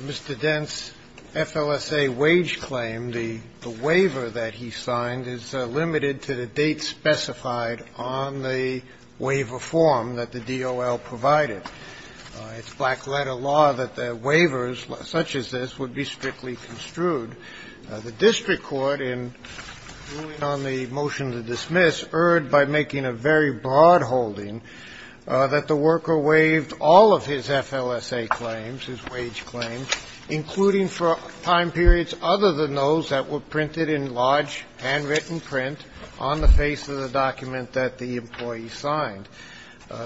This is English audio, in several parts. Mr. Dent's FLSA wage claim, the waiver that he signed, is limited to the date specified on the waiver form that the DOL provided. It's black-letter law that waivers such as this would be strictly construed. The district court, in ruling on the motion to dismiss, erred by making a very broad holding that the worker waived all of his FLSA claims, his wage claims, including for time periods other than those that were printed in large, handwritten print on the face of the document that the employee signed.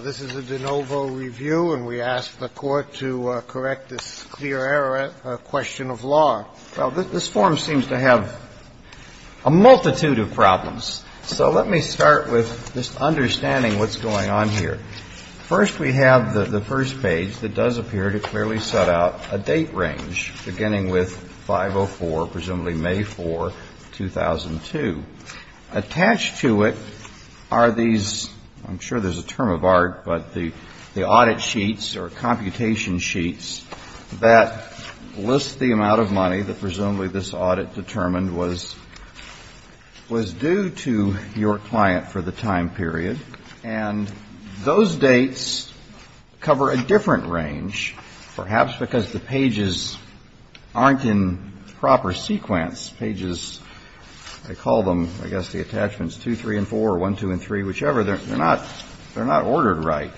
This is a de novo review, and we ask the Court to correct this clear error of the waiver. that the worker waived all of his FLSA claims, including for time periods other than those that were printed in large, handwritten print on the face of the document that the employee signed. the amount of money that presumably this audit determined was due to your client for the time period. And those dates cover a different range, perhaps because the pages aren't in proper sequence. Pages, they call them, I guess, the attachments 2, 3, and 4, or 1, 2, and 3, whichever, they're not ordered right.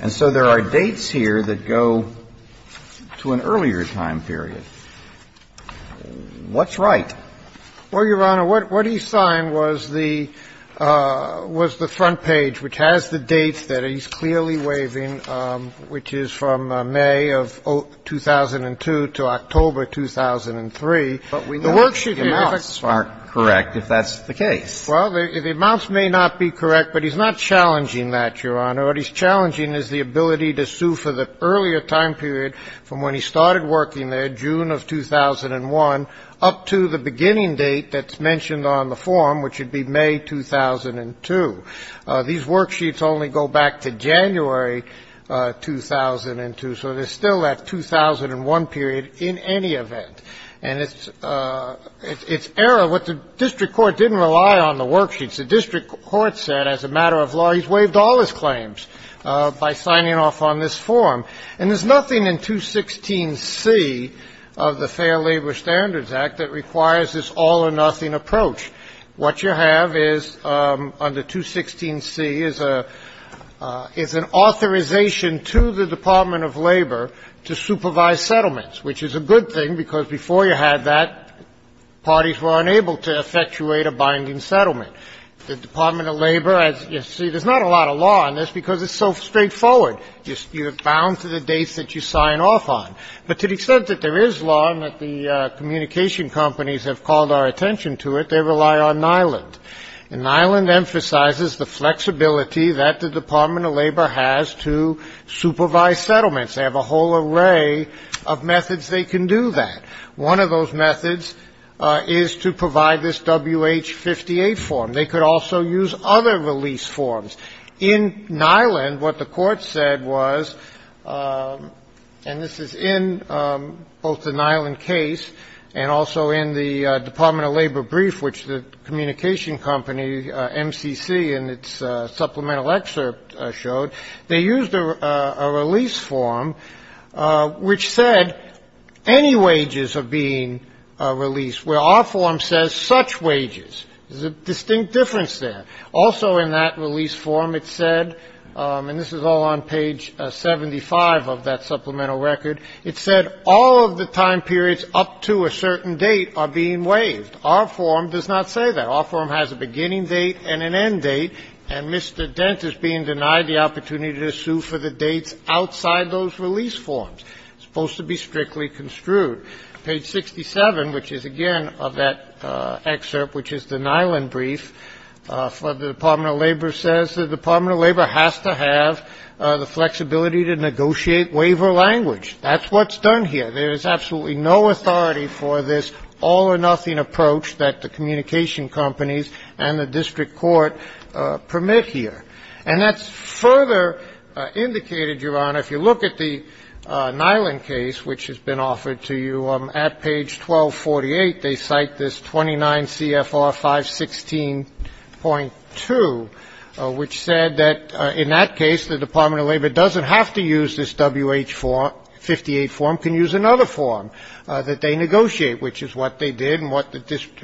And so there are dates here that go to an earlier time period. What's right? Well, Your Honor, what he signed was the front page, which has the dates that he's clearly waiving, which is from May of 2002 to October 2003. The worksheet here is a fact. But we know the amounts aren't correct, if that's the case. Well, the amounts may not be correct, but he's not challenging that, Your Honor. What he's challenging is the ability to sue for the earlier time period from when he started working there, June of 2001, up to the beginning date that's mentioned on the form, which would be May 2002. These worksheets only go back to January 2002, so there's still that 2001 period in any event. And it's error. What the district court didn't rely on the worksheets. The district court said, as a matter of law, he's waived all his claims by signing off on this form. And there's nothing in 216C of the Fair Labor Standards Act that requires this all-or-nothing approach. What you have is, under 216C, is an authorization to the Department of Labor to supervise settlements, which is a good thing, because before you had that, parties were unable to effectuate a binding settlement. The Department of Labor, as you see, there's not a lot of law on this because it's so straightforward. You're bound to the dates that you sign off on. But to the extent that there is law and that the communication companies have called our attention to it, they rely on NILAND. And NILAND emphasizes the flexibility that the Department of Labor has to supervise settlements. They have a whole array of methods they can do that. One of those methods is to provide this WH-58 form. They could also use other release forms. In NILAND, what the court said was, and this is in both the NILAND case and also in the Department of Labor brief, which the communication company MCC in its supplemental excerpt showed, they used a release form which said any wages are being released, where our form says such wages. There's a distinct difference there. Also in that release form, it said, and this is all on page 75 of that supplemental record, it said all of the time periods up to a certain date are being waived. Our form does not say that. Our form has a beginning date and an end date. And Mr. Dent is being denied the opportunity to sue for the dates outside those release forms. It's supposed to be strictly construed. Page 67, which is again of that excerpt, which is the NILAND brief, for the Department of Labor says the Department of Labor has to have the flexibility to negotiate waiver language. That's what's done here. There is absolutely no authority for this all-or-nothing approach that the communication companies and the district court permit here. And that's further indicated, Your Honor, if you look at the NILAND case, which has been offered to you, at page 1248, they cite this 29CFR 516.2, which said that in that case, the Department of Labor doesn't have to use this WH form, 58 form, can use another form that they negotiate, which is what they did and what the district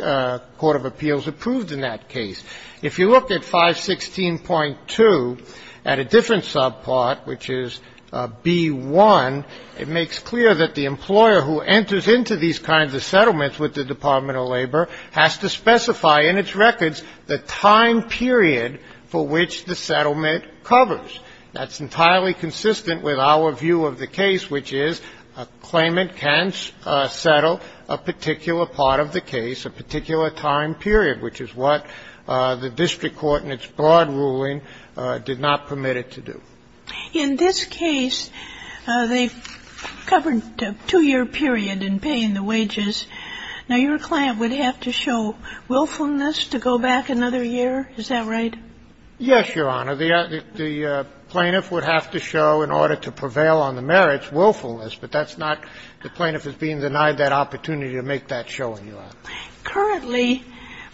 court of appeals approved in that case. If you look at 516.2 at a different subpart, which is B1, it makes clear that the employer who enters into these kinds of settlements with the Department of Labor has to specify in its records the time period for which the settlement covers. That's entirely consistent with our view of the case, which is a claimant can't settle a particular part of the case, a particular time period, which is what the district court in its broad ruling did not permit it to do. In this case, they covered a two-year period in paying the wages. Now, your client would have to show willfulness to go back another year, is that right? Yes, Your Honor. The plaintiff would have to show, in order to prevail on the merits, willfulness. But that's not the plaintiff is being denied that opportunity to make that showing, Your Honor. Currently,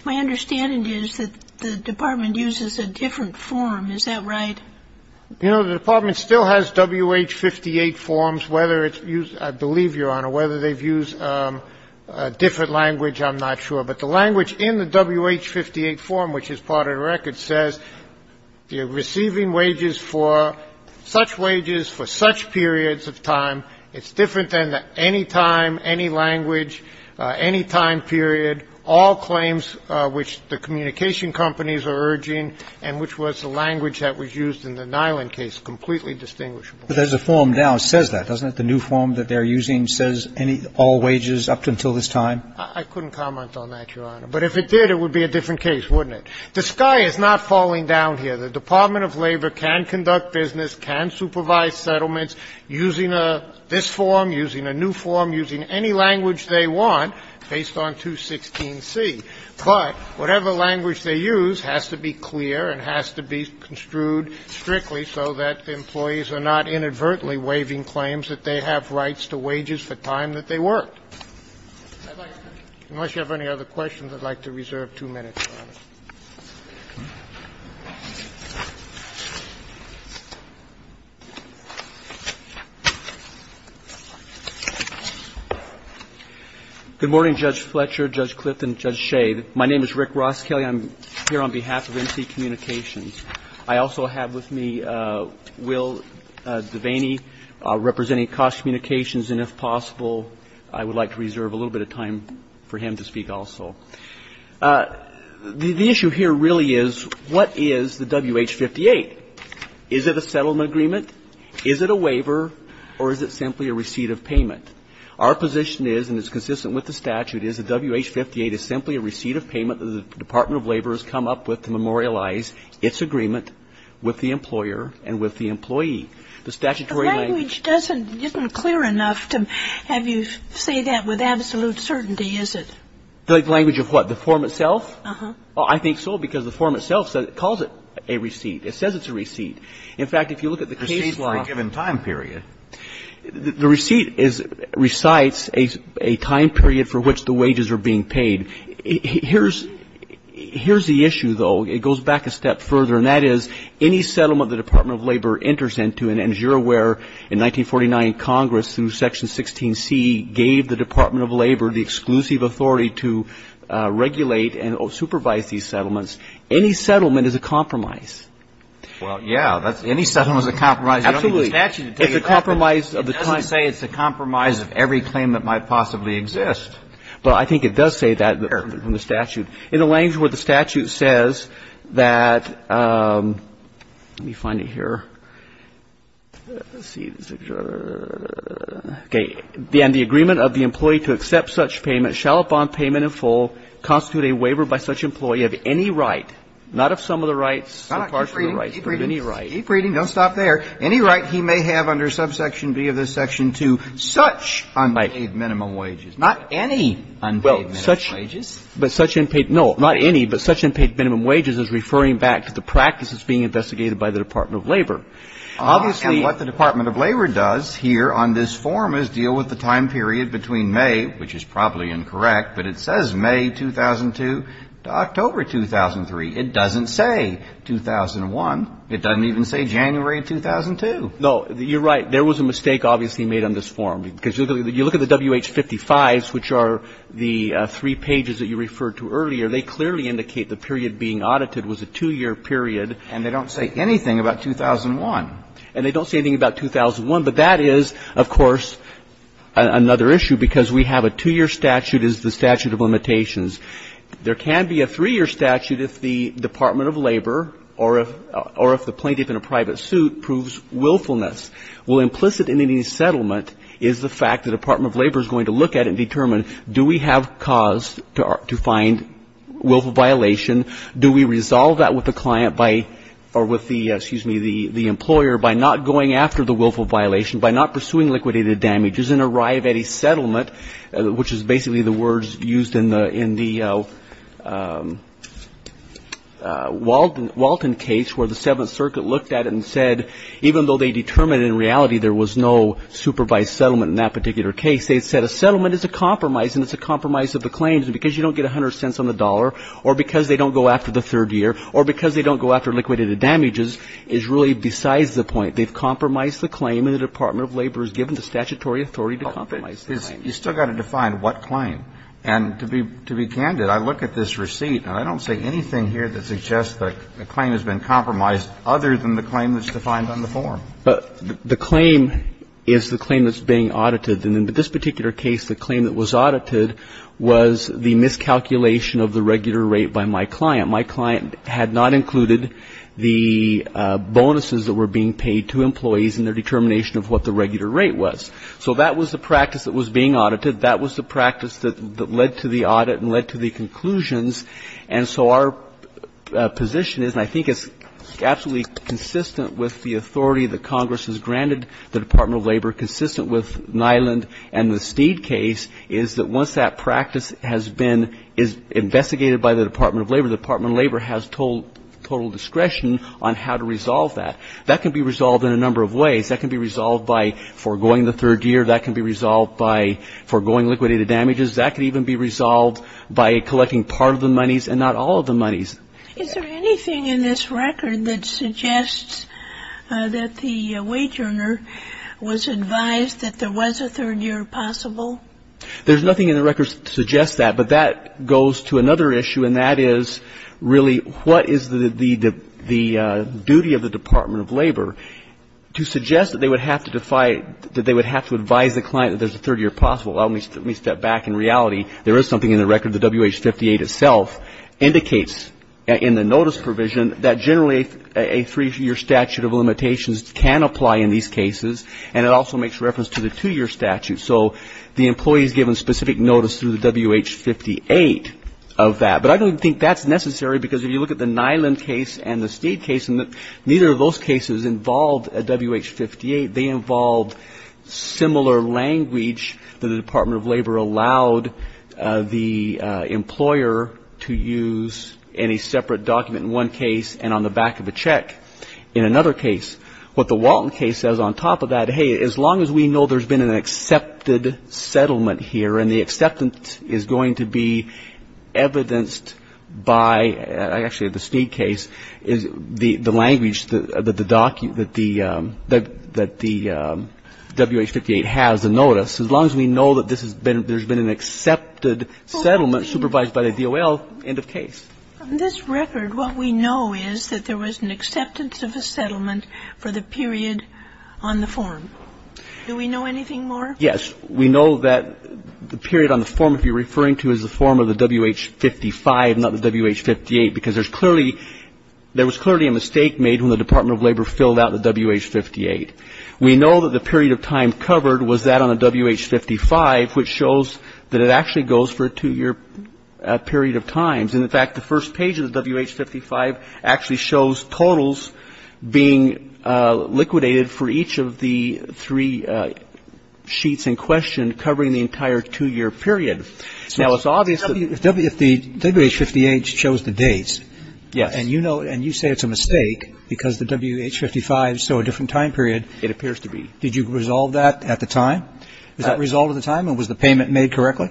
my understanding is that the department uses a different form, is that right? You know, the department still has WH-58 forms, whether it's used, I believe, Your Honor, whether they've used a different language, I'm not sure. But the language in the WH-58 form, which is part of the record, says you're receiving wages for such wages for such periods of time. It's different than any time, any language, any time period, all claims which the communication companies are urging, and which was the language that was used in the Nyland case, completely distinguishable. But there's a form now that says that, doesn't it? The new form that they're using says all wages up until this time? I couldn't comment on that, Your Honor. But if it did, it would be a different case, wouldn't it? The sky is not falling down here. The Department of Labor can conduct business, can supervise settlements using this form, using a new form, using any language they want based on 216C. But whatever language they use has to be clear and has to be construed strictly so that the employees are not inadvertently waiving claims that they have rights to wages for time that they work. Unless you have any other questions, I'd like to reserve 2 minutes, Your Honor. Good morning, Judge Fletcher, Judge Clifton, and Judge Shade. My name is Rick Ross Kelly. I'm here on behalf of NC Communications. I also have with me Will Devaney, representing Cost Communications, and if possible, I would like to reserve a little bit of time for him to speak also. The issue here really is what is the WH-58? Is it a settlement agreement? Is it a waiver? Or is it simply a receipt of payment? Our position is, and it's consistent with the statute, is the WH-58 is simply a receipt of payment that the Department of Labor has come up with to memorialize its agreement with the employer and with the employee. The statutory language doesn't get clear enough to have you say that with absolute certainty, is it? The language of what, the form itself? Uh-huh. Well, I think so, because the form itself calls it a receipt. It says it's a receipt. In fact, if you look at the case law ---- Receipt for a given time period. The receipt recites a time period for which the wages are being paid. Here's the issue, though. It goes back a step further, and that is, any settlement the Department of Labor enters into, and as you're aware, in 1949, Congress, through Section 16C, gave the authority to regulate and supervise these settlements, any settlement is a compromise. Well, yeah, any settlement is a compromise. You don't need the statute to take it up, but it doesn't say it's a compromise of every claim that might possibly exist. Well, I think it does say that in the statute. In the language where the statute says that, let me find it here. Let's see. Okay. And the agreement of the employee to accept such payment shall, upon payment in full, constitute a waiver by such employee of any right, not of some of the rights, a partial of the rights, but of any right. Keep reading. Don't stop there. Any right he may have under subsection B of this section to such unpaid minimum wages. Not any unpaid minimum wages. Well, such ---- But such unpaid ---- No, not any, but such unpaid minimum wages is referring back to the practices being investigated by the Department of Labor. Obviously ---- And what the Department of Labor does here on this form is deal with the time period between May, which is probably incorrect, but it says May 2002 to October 2003. It doesn't say 2001. It doesn't even say January 2002. No. You're right. There was a mistake obviously made on this form. Because you look at the WH-55s, which are the three pages that you referred to earlier, they clearly indicate the period being audited was a two-year period. And they don't say anything about 2001. And they don't say anything about 2001. But that is, of course, another issue, because we have a two-year statute as the statute of limitations. There can be a three-year statute if the Department of Labor or if the plaintiff in a private suit proves willfulness. Well, implicit in any settlement is the fact the Department of Labor is going to look at it and determine, do we have cause to find willful violation? Do we resolve that with the client by, or with the, excuse me, the employer by not going after the willful violation, by not pursuing liquidated damages, and arrive at a settlement, which is basically the words used in the Walton case where the Seventh Circuit looked at it and said, even though they determined in reality there was no supervised settlement in that particular case, they said a settlement is a compromise. And it's a compromise of the claims. And because you don't get 100 cents on the dollar, or because they don't go after the third year, or because they don't go after liquidated damages is really besides the point. They've compromised the claim, and the Department of Labor is given the statutory authority to compromise the claim. You still got to define what claim. And to be candid, I look at this receipt, and I don't see anything here that suggests that a claim has been compromised other than the claim that's defined on the form. But the claim is the claim that's being audited. And in this particular case, the claim that was audited was the miscalculation of the regular rate by my client. My client had not included the bonuses that were being paid to employees in their determination of what the regular rate was. So that was the practice that was being audited. That was the practice that led to the audit and led to the conclusions. And so our position is, and I think it's absolutely consistent with the authority that Congress has granted the Department of Labor, consistent with Nyland and the Steed case, is that once that practice has been investigated by the Department of Labor, the Department of Labor has total discretion on how to resolve that. That can be resolved in a number of ways. That can be resolved by foregoing the third year. That can be resolved by foregoing liquidated damages. That can even be resolved by collecting part of the monies and not all of the monies. Is there anything in this record that suggests that the wage earner was advised that there was a third year possible? There's nothing in the record that suggests that. But that goes to another issue, and that is really what is the duty of the Department of Labor to suggest that they would have to advise the client that there's a third year possible. Let me step back. In reality, there is something in the record. The WH-58 itself indicates in the notice provision that generally a three-year statute of limitations can apply in these cases, and it also makes reference to the two-year statute. So the employee is given specific notice through the WH-58 of that. But I don't think that's necessary because if you look at the Nyland case and the Steed case, neither of those cases involved a WH-58. They involved similar language that the Department of Labor allowed the employer to use in a separate document in one case and on the back of a check in another case. What the Walton case says on top of that, hey, as long as we know there's been an accepted settlement here and the acceptance is going to be evidenced by, actually the Steed case is the language that the WH-58 has in the notice, as long as we know that this has been, there's been an accepted settlement supervised by the DOL, end of case. On this record, what we know is that there was an acceptance of a settlement for the period on the form. Do we know anything more? Yes. We know that the period on the form, if you're referring to, is the form of the WH-55, not the WH-58, because there's clearly, there was clearly a mistake made when the Department of Labor filled out the WH-58. We know that the period of time covered was that on the WH-55, which shows that it actually goes for a two-year period of times. And, in fact, the first page of the WH-55 actually shows totals being liquidated for each of the three sheets in question covering the entire two-year period. Now, it's obvious that the WH-58 shows the dates. Yes. And you know, and you say it's a mistake because the WH-55 showed a different time period. It appears to be. Did you resolve that at the time? Was that resolved at the time, or was the payment made correctly?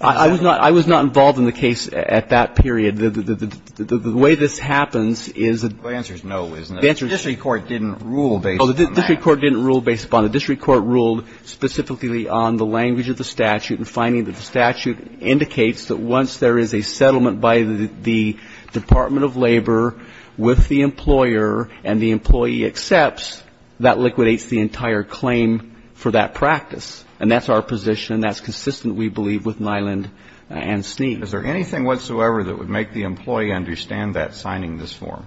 I was not involved in the case at that period. The way this happens is that the answer is no, isn't it? The answer is no. The district court didn't rule based on that. Oh, the district court didn't rule based upon it. The district court ruled specifically on the language of the statute and finding that the statute indicates that once there is a settlement by the Department of Labor with the employer and the employee accepts, that liquidates the entire claim for that practice. And that's our position, and that's consistent, we believe, with Nyland and Sneed. Is there anything whatsoever that would make the employee understand that signing this form?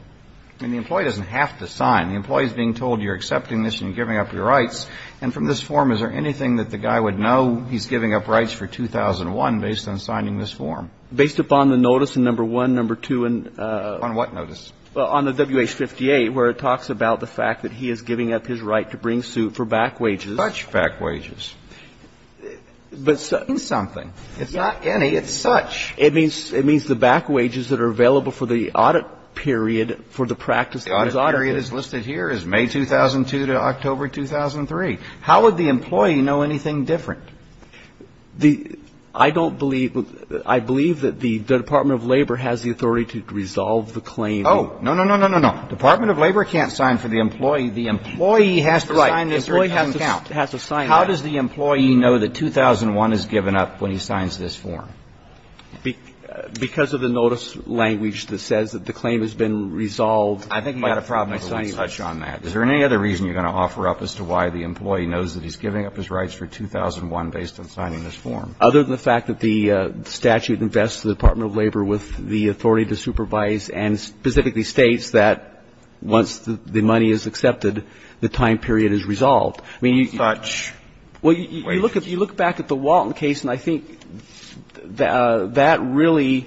I mean, the employee doesn't have to sign. The employee is being told you're accepting this and you're giving up your rights. And from this form, is there anything that the guy would know he's giving up rights for 2001 based on signing this form? Based upon the notice in No. 1, No. 2 and ---- On what notice? Well, on the WH-58, where it talks about the fact that he is giving up his right to bring suit for back wages. Such back wages. It means something. It's not any. It's such. It means the back wages that are available for the audit period for the practice that is audited. The audit period is listed here as May 2002 to October 2003. How would the employee know anything different? The ---- I don't believe the ---- I believe that the Department of Labor has the authority to resolve the claim. Oh, no, no, no, no, no, no. The Department of Labor can't sign for the employee. The employee has to sign this. Right. The employee has to sign that. How does the employee know that 2001 is given up when he signs this form? Because of the notice language that says that the claim has been resolved. I think you've got a problem if we touch on that. Is there any other reason you're going to offer up as to why the employee knows that he's giving up his rights for 2001 based on signing this form? Other than the fact that the statute invests the Department of Labor with the authority to supervise and specifically states that once the money is accepted, the time period is resolved. I mean, you ---- Such wages. Well, you look back at the Walton case, and I think that really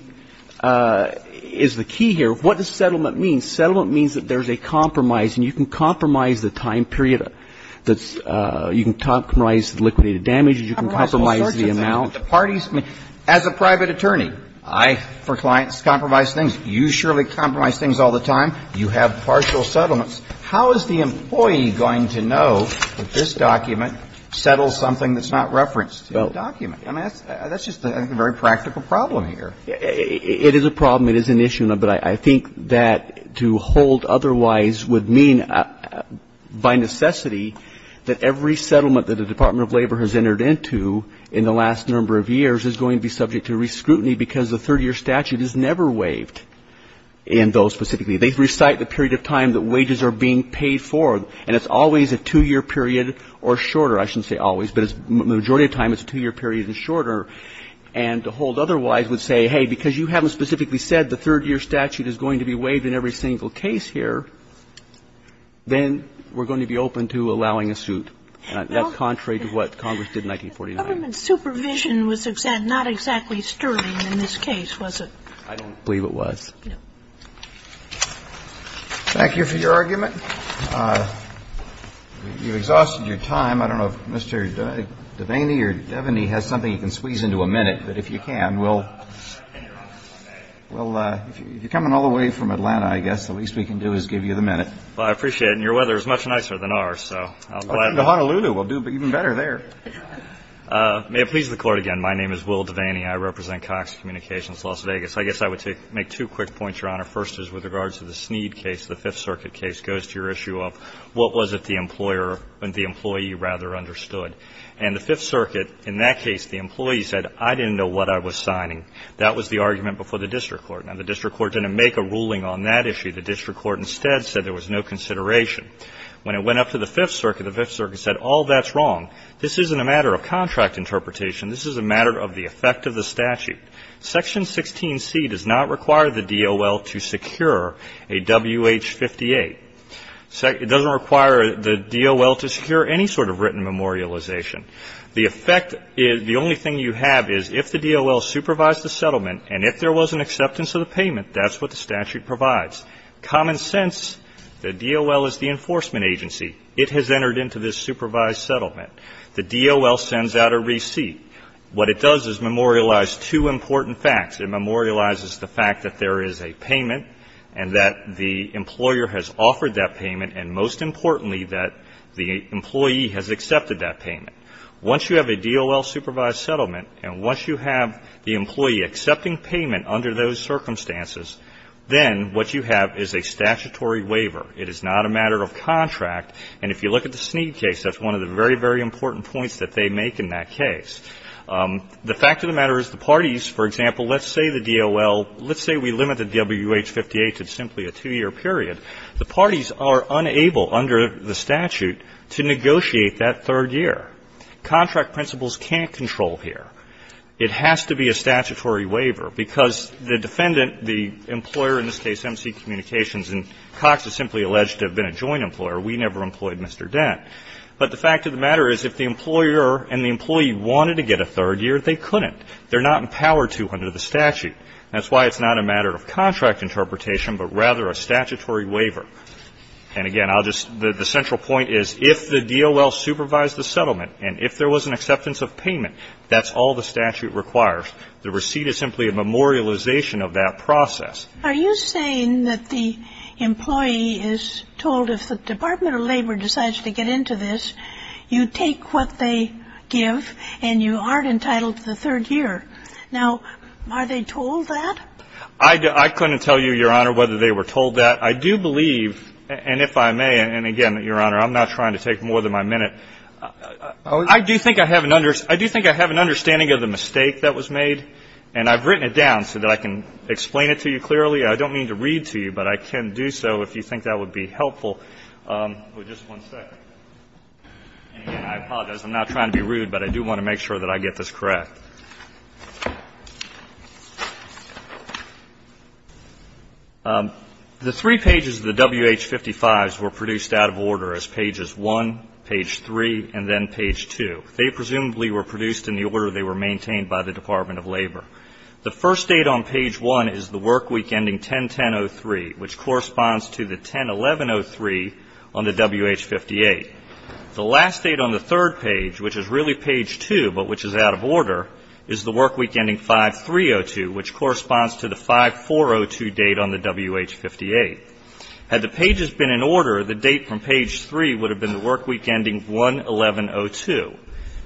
is the key here. What does settlement mean? Settlement means that there's a compromise, and you can compromise the time period that's ---- you can compromise the liquidated damages. You can compromise the amount. As a private attorney, I, for clients, compromise things. You surely compromise things all the time. You have partial settlements. How is the employee going to know that this document settles something that's not referenced in the document? I mean, that's just a very practical problem here. It is a problem. It is an issue. But I think that to hold otherwise would mean by necessity that every settlement that the Department of Labor has entered into in the last number of years is going to be subject to re-scrutiny because the 30-year statute is never waived in those specifically. They recite the period of time that wages are being paid for, and it's always a two-year period or shorter. I shouldn't say always, but the majority of time it's a two-year period or shorter. And to hold otherwise would say, hey, because you haven't specifically said the 30-year statute is going to be waived in every single case here, then we're going to be open to allowing a suit. That's contrary to what Congress did in 1949. Government supervision was not exactly sterling in this case, was it? I don't believe it was. Thank you for your argument. You've exhausted your time. I don't know if Mr. Devaney or Devaney has something he can squeeze into a minute, but if you can, we'll ‑‑ well, if you're coming all the way from Atlanta, I guess, the least we can do is give you the minute. Well, I appreciate it. And your weather is much nicer than ours, so I'll let ‑‑ Go to Honolulu. We'll do even better there. May it please the Court again, my name is Will Devaney. I represent Cox Communications, Las Vegas. I guess I would make two quick points, Your Honor. First is with regards to the Sneed case, the Fifth Circuit case, goes to your issue of what was it the employer ‑‑ the employee rather understood. And the Fifth Circuit, in that case, the employee said, I didn't know what I was signing. That was the argument before the district court. Now, the district court didn't make a ruling on that issue. The district court instead said there was no consideration. When it went up to the Fifth Circuit, the Fifth Circuit said, all that's wrong. This isn't a matter of contract interpretation. This is a matter of the effect of the statute. Section 16C does not require the DOL to secure a WH‑58. It doesn't require the DOL to secure any sort of written memorialization. The effect ‑‑ the only thing you have is if the DOL supervised the settlement, and if there was an acceptance of the payment, that's what the statute provides. Common sense, the DOL is the enforcement agency. It has entered into this supervised settlement. The DOL sends out a receipt. What it does is memorialize two important facts. It memorializes the fact that there is a payment and that the employer has offered that payment and, most importantly, that the employee has accepted that payment. Once you have a DOL supervised settlement and once you have the employee accepting payment under those circumstances, then what you have is a statutory waiver. It is not a matter of contract. And if you look at the Sneed case, that's one of the very, very important points that they make in that case. The fact of the matter is the parties, for example, let's say the DOL ‑‑ let's say we limited WH‑58 to simply a two‑year period. The parties are unable under the statute to negotiate that third year. Contract principles can't control here. It has to be a statutory waiver, because the defendant, the employer, in this case MC Communications and Cox, is simply alleged to have been a joint employer. We never employed Mr. Dent. But the fact of the matter is if the employer and the employee wanted to get a third year, they couldn't. They're not empowered to under the statute. That's why it's not a matter of contract interpretation, but rather a statutory waiver. And, again, I'll just ‑‑ the central point is if the DOL supervised the settlement and if there was an acceptance of payment, that's all the statute requires. The receipt is simply a memorialization of that process. Are you saying that the employee is told if the Department of Labor decides to get into this, you take what they give and you aren't entitled to the third year? Now, are they told that? I couldn't tell you, Your Honor, whether they were told that. I do believe, and if I may, and, again, Your Honor, I'm not trying to take more than my minute. I do think I have an understanding of the mistake that was made, and I've written it down so that I can explain it to you clearly. I don't mean to read to you, but I can do so if you think that would be helpful. Just one second. And, again, I apologize. I'm not trying to be rude, but I do want to make sure that I get this correct. The three pages of the WH55s were produced out of order as pages 1, page 3, and then page 2. They presumably were produced in the order they were maintained by the Department of Labor. The first date on page 1 is the work week ending 10-10-03, which corresponds to the 10-11-03 on the WH58. The last date on the third page, which is really page 2 but which is out of order, is the work week ending 5-3-02, which corresponds to the 5-4-02 date on the WH58. Had the pages been in order, the date from page 3 would have been the work week ending 1-11-02.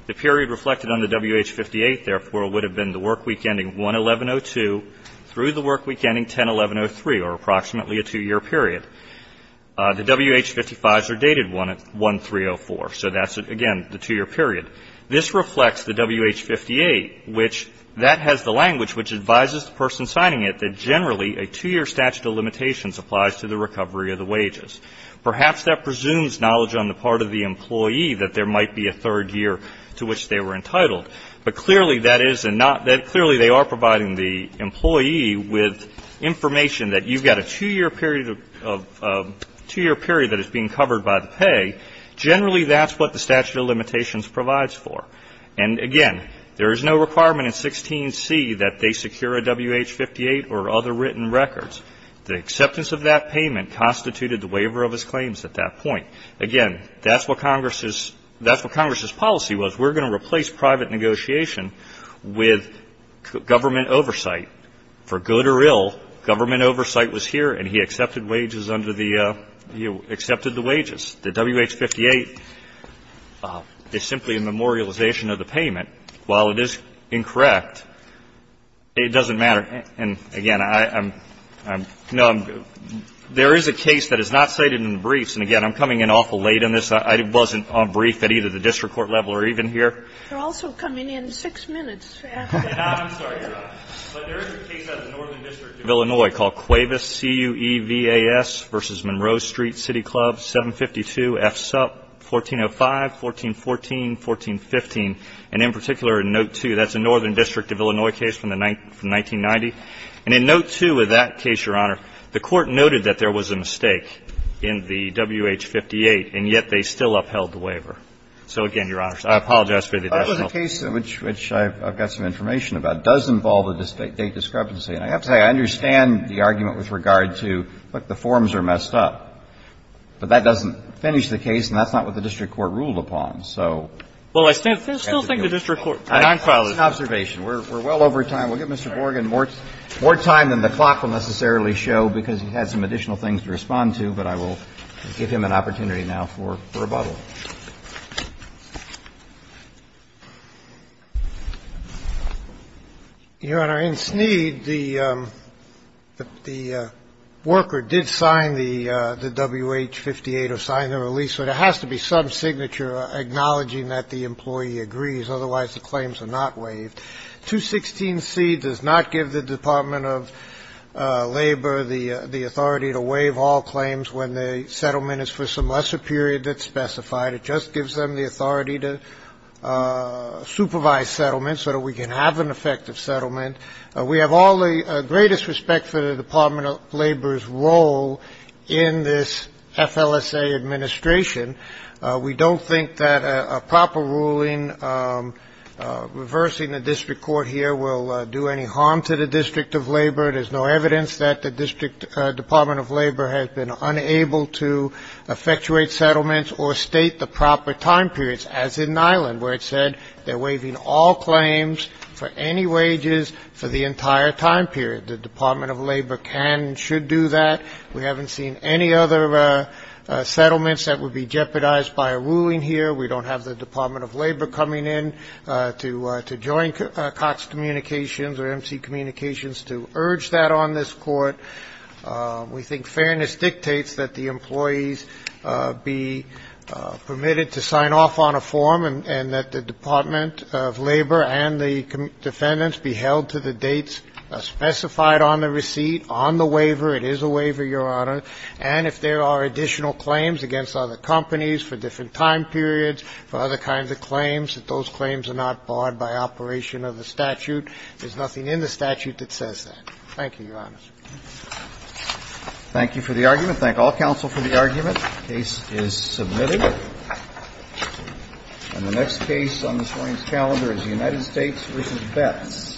The period reflected on the WH58, therefore, would have been the work week ending 1-11-02 through the work week ending 10-11-03, or approximately a 2-year period. The WH55s are dated 1-3-04. So that's, again, the 2-year period. This reflects the WH58, which that has the language which advises the person signing it that generally a 2-year statute of limitations applies to the recovery of the wages. Perhaps that presumes knowledge on the part of the employee that there might be a third year to which they were entitled. But clearly that is not that. Clearly they are providing the employee with information that you've got a 2-year period of a 2-year period that is being covered by the pay. Generally that's what the statute of limitations provides for. And, again, there is no requirement in 16C that they secure a WH58 or other written records. The acceptance of that payment constituted the waiver of his claims at that point. Again, that's what Congress's – that's what Congress's policy was. We're going to replace private negotiation with government oversight. For good or ill, government oversight was here and he accepted wages under the – he accepted the wages. The WH58 is simply a memorialization of the payment. While it is incorrect, it doesn't matter. And, again, I'm – no, there is a case that is not cited in the briefs. And, again, I'm coming in awful late on this. I wasn't briefed at either the district court level or even here. They're also coming in six minutes after. I'm sorry, Your Honor. But there is a case at the Northern District of Illinois called Cuevas, C-U-E-V-A-S v. Monroe Street City Club, 752 F. Supp. 1405, 1414, 1415. And in particular, in note 2, that's a Northern District of Illinois case from the 1990. And in note 2 of that case, Your Honor, the Court noted that there was a mistake in the WH58, and yet they still upheld the waiver. So, again, Your Honor, I apologize for the delay. Breyer. That was a case which I've got some information about. It does involve a date discrepancy. And I have to say, I understand the argument with regard to, look, the forms are messed up. But that doesn't finish the case and that's not what the district court ruled upon. So I have to give you an observation. We're well over time. We'll give Mr. Borgen more time than the clock will necessarily show, because he had some additional things to respond to. But I will give him an opportunity now for rebuttal. Your Honor, in Sneed, the worker did sign the WH58 or sign the release. So there has to be some signature acknowledging that the employee agrees. Otherwise, the claims are not waived. 216C does not give the Department of Labor the authority to waive all claims when the settlement is for some lesser period that's specified. It just gives them the authority to supervise settlements so that we can have an effective settlement. We have all the greatest respect for the Department of Labor's role in this FLSA administration. We don't think that a proper ruling reversing the district court here will do any harm to the District of Labor. There's no evidence that the District Department of Labor has been unable to effectuate settlements or state the proper time periods, as in Nyland, where it said they're for any wages for the entire time period. The Department of Labor can and should do that. We haven't seen any other settlements that would be jeopardized by a ruling here. We don't have the Department of Labor coming in to join Cox Communications or MC Communications to urge that on this court. We think fairness dictates that the employees be permitted to sign off on a form and that the Department of Labor and the defendants be held to the dates specified on the receipt, on the waiver. It is a waiver, Your Honor. And if there are additional claims against other companies for different time periods, for other kinds of claims, that those claims are not barred by operation of the statute. There's nothing in the statute that says that. Thank you, Your Honors. Roberts. Thank you for the argument. Thank all counsel for the argument. The case is submitted. And the next case on this morning's calendar is the United States v. Betts.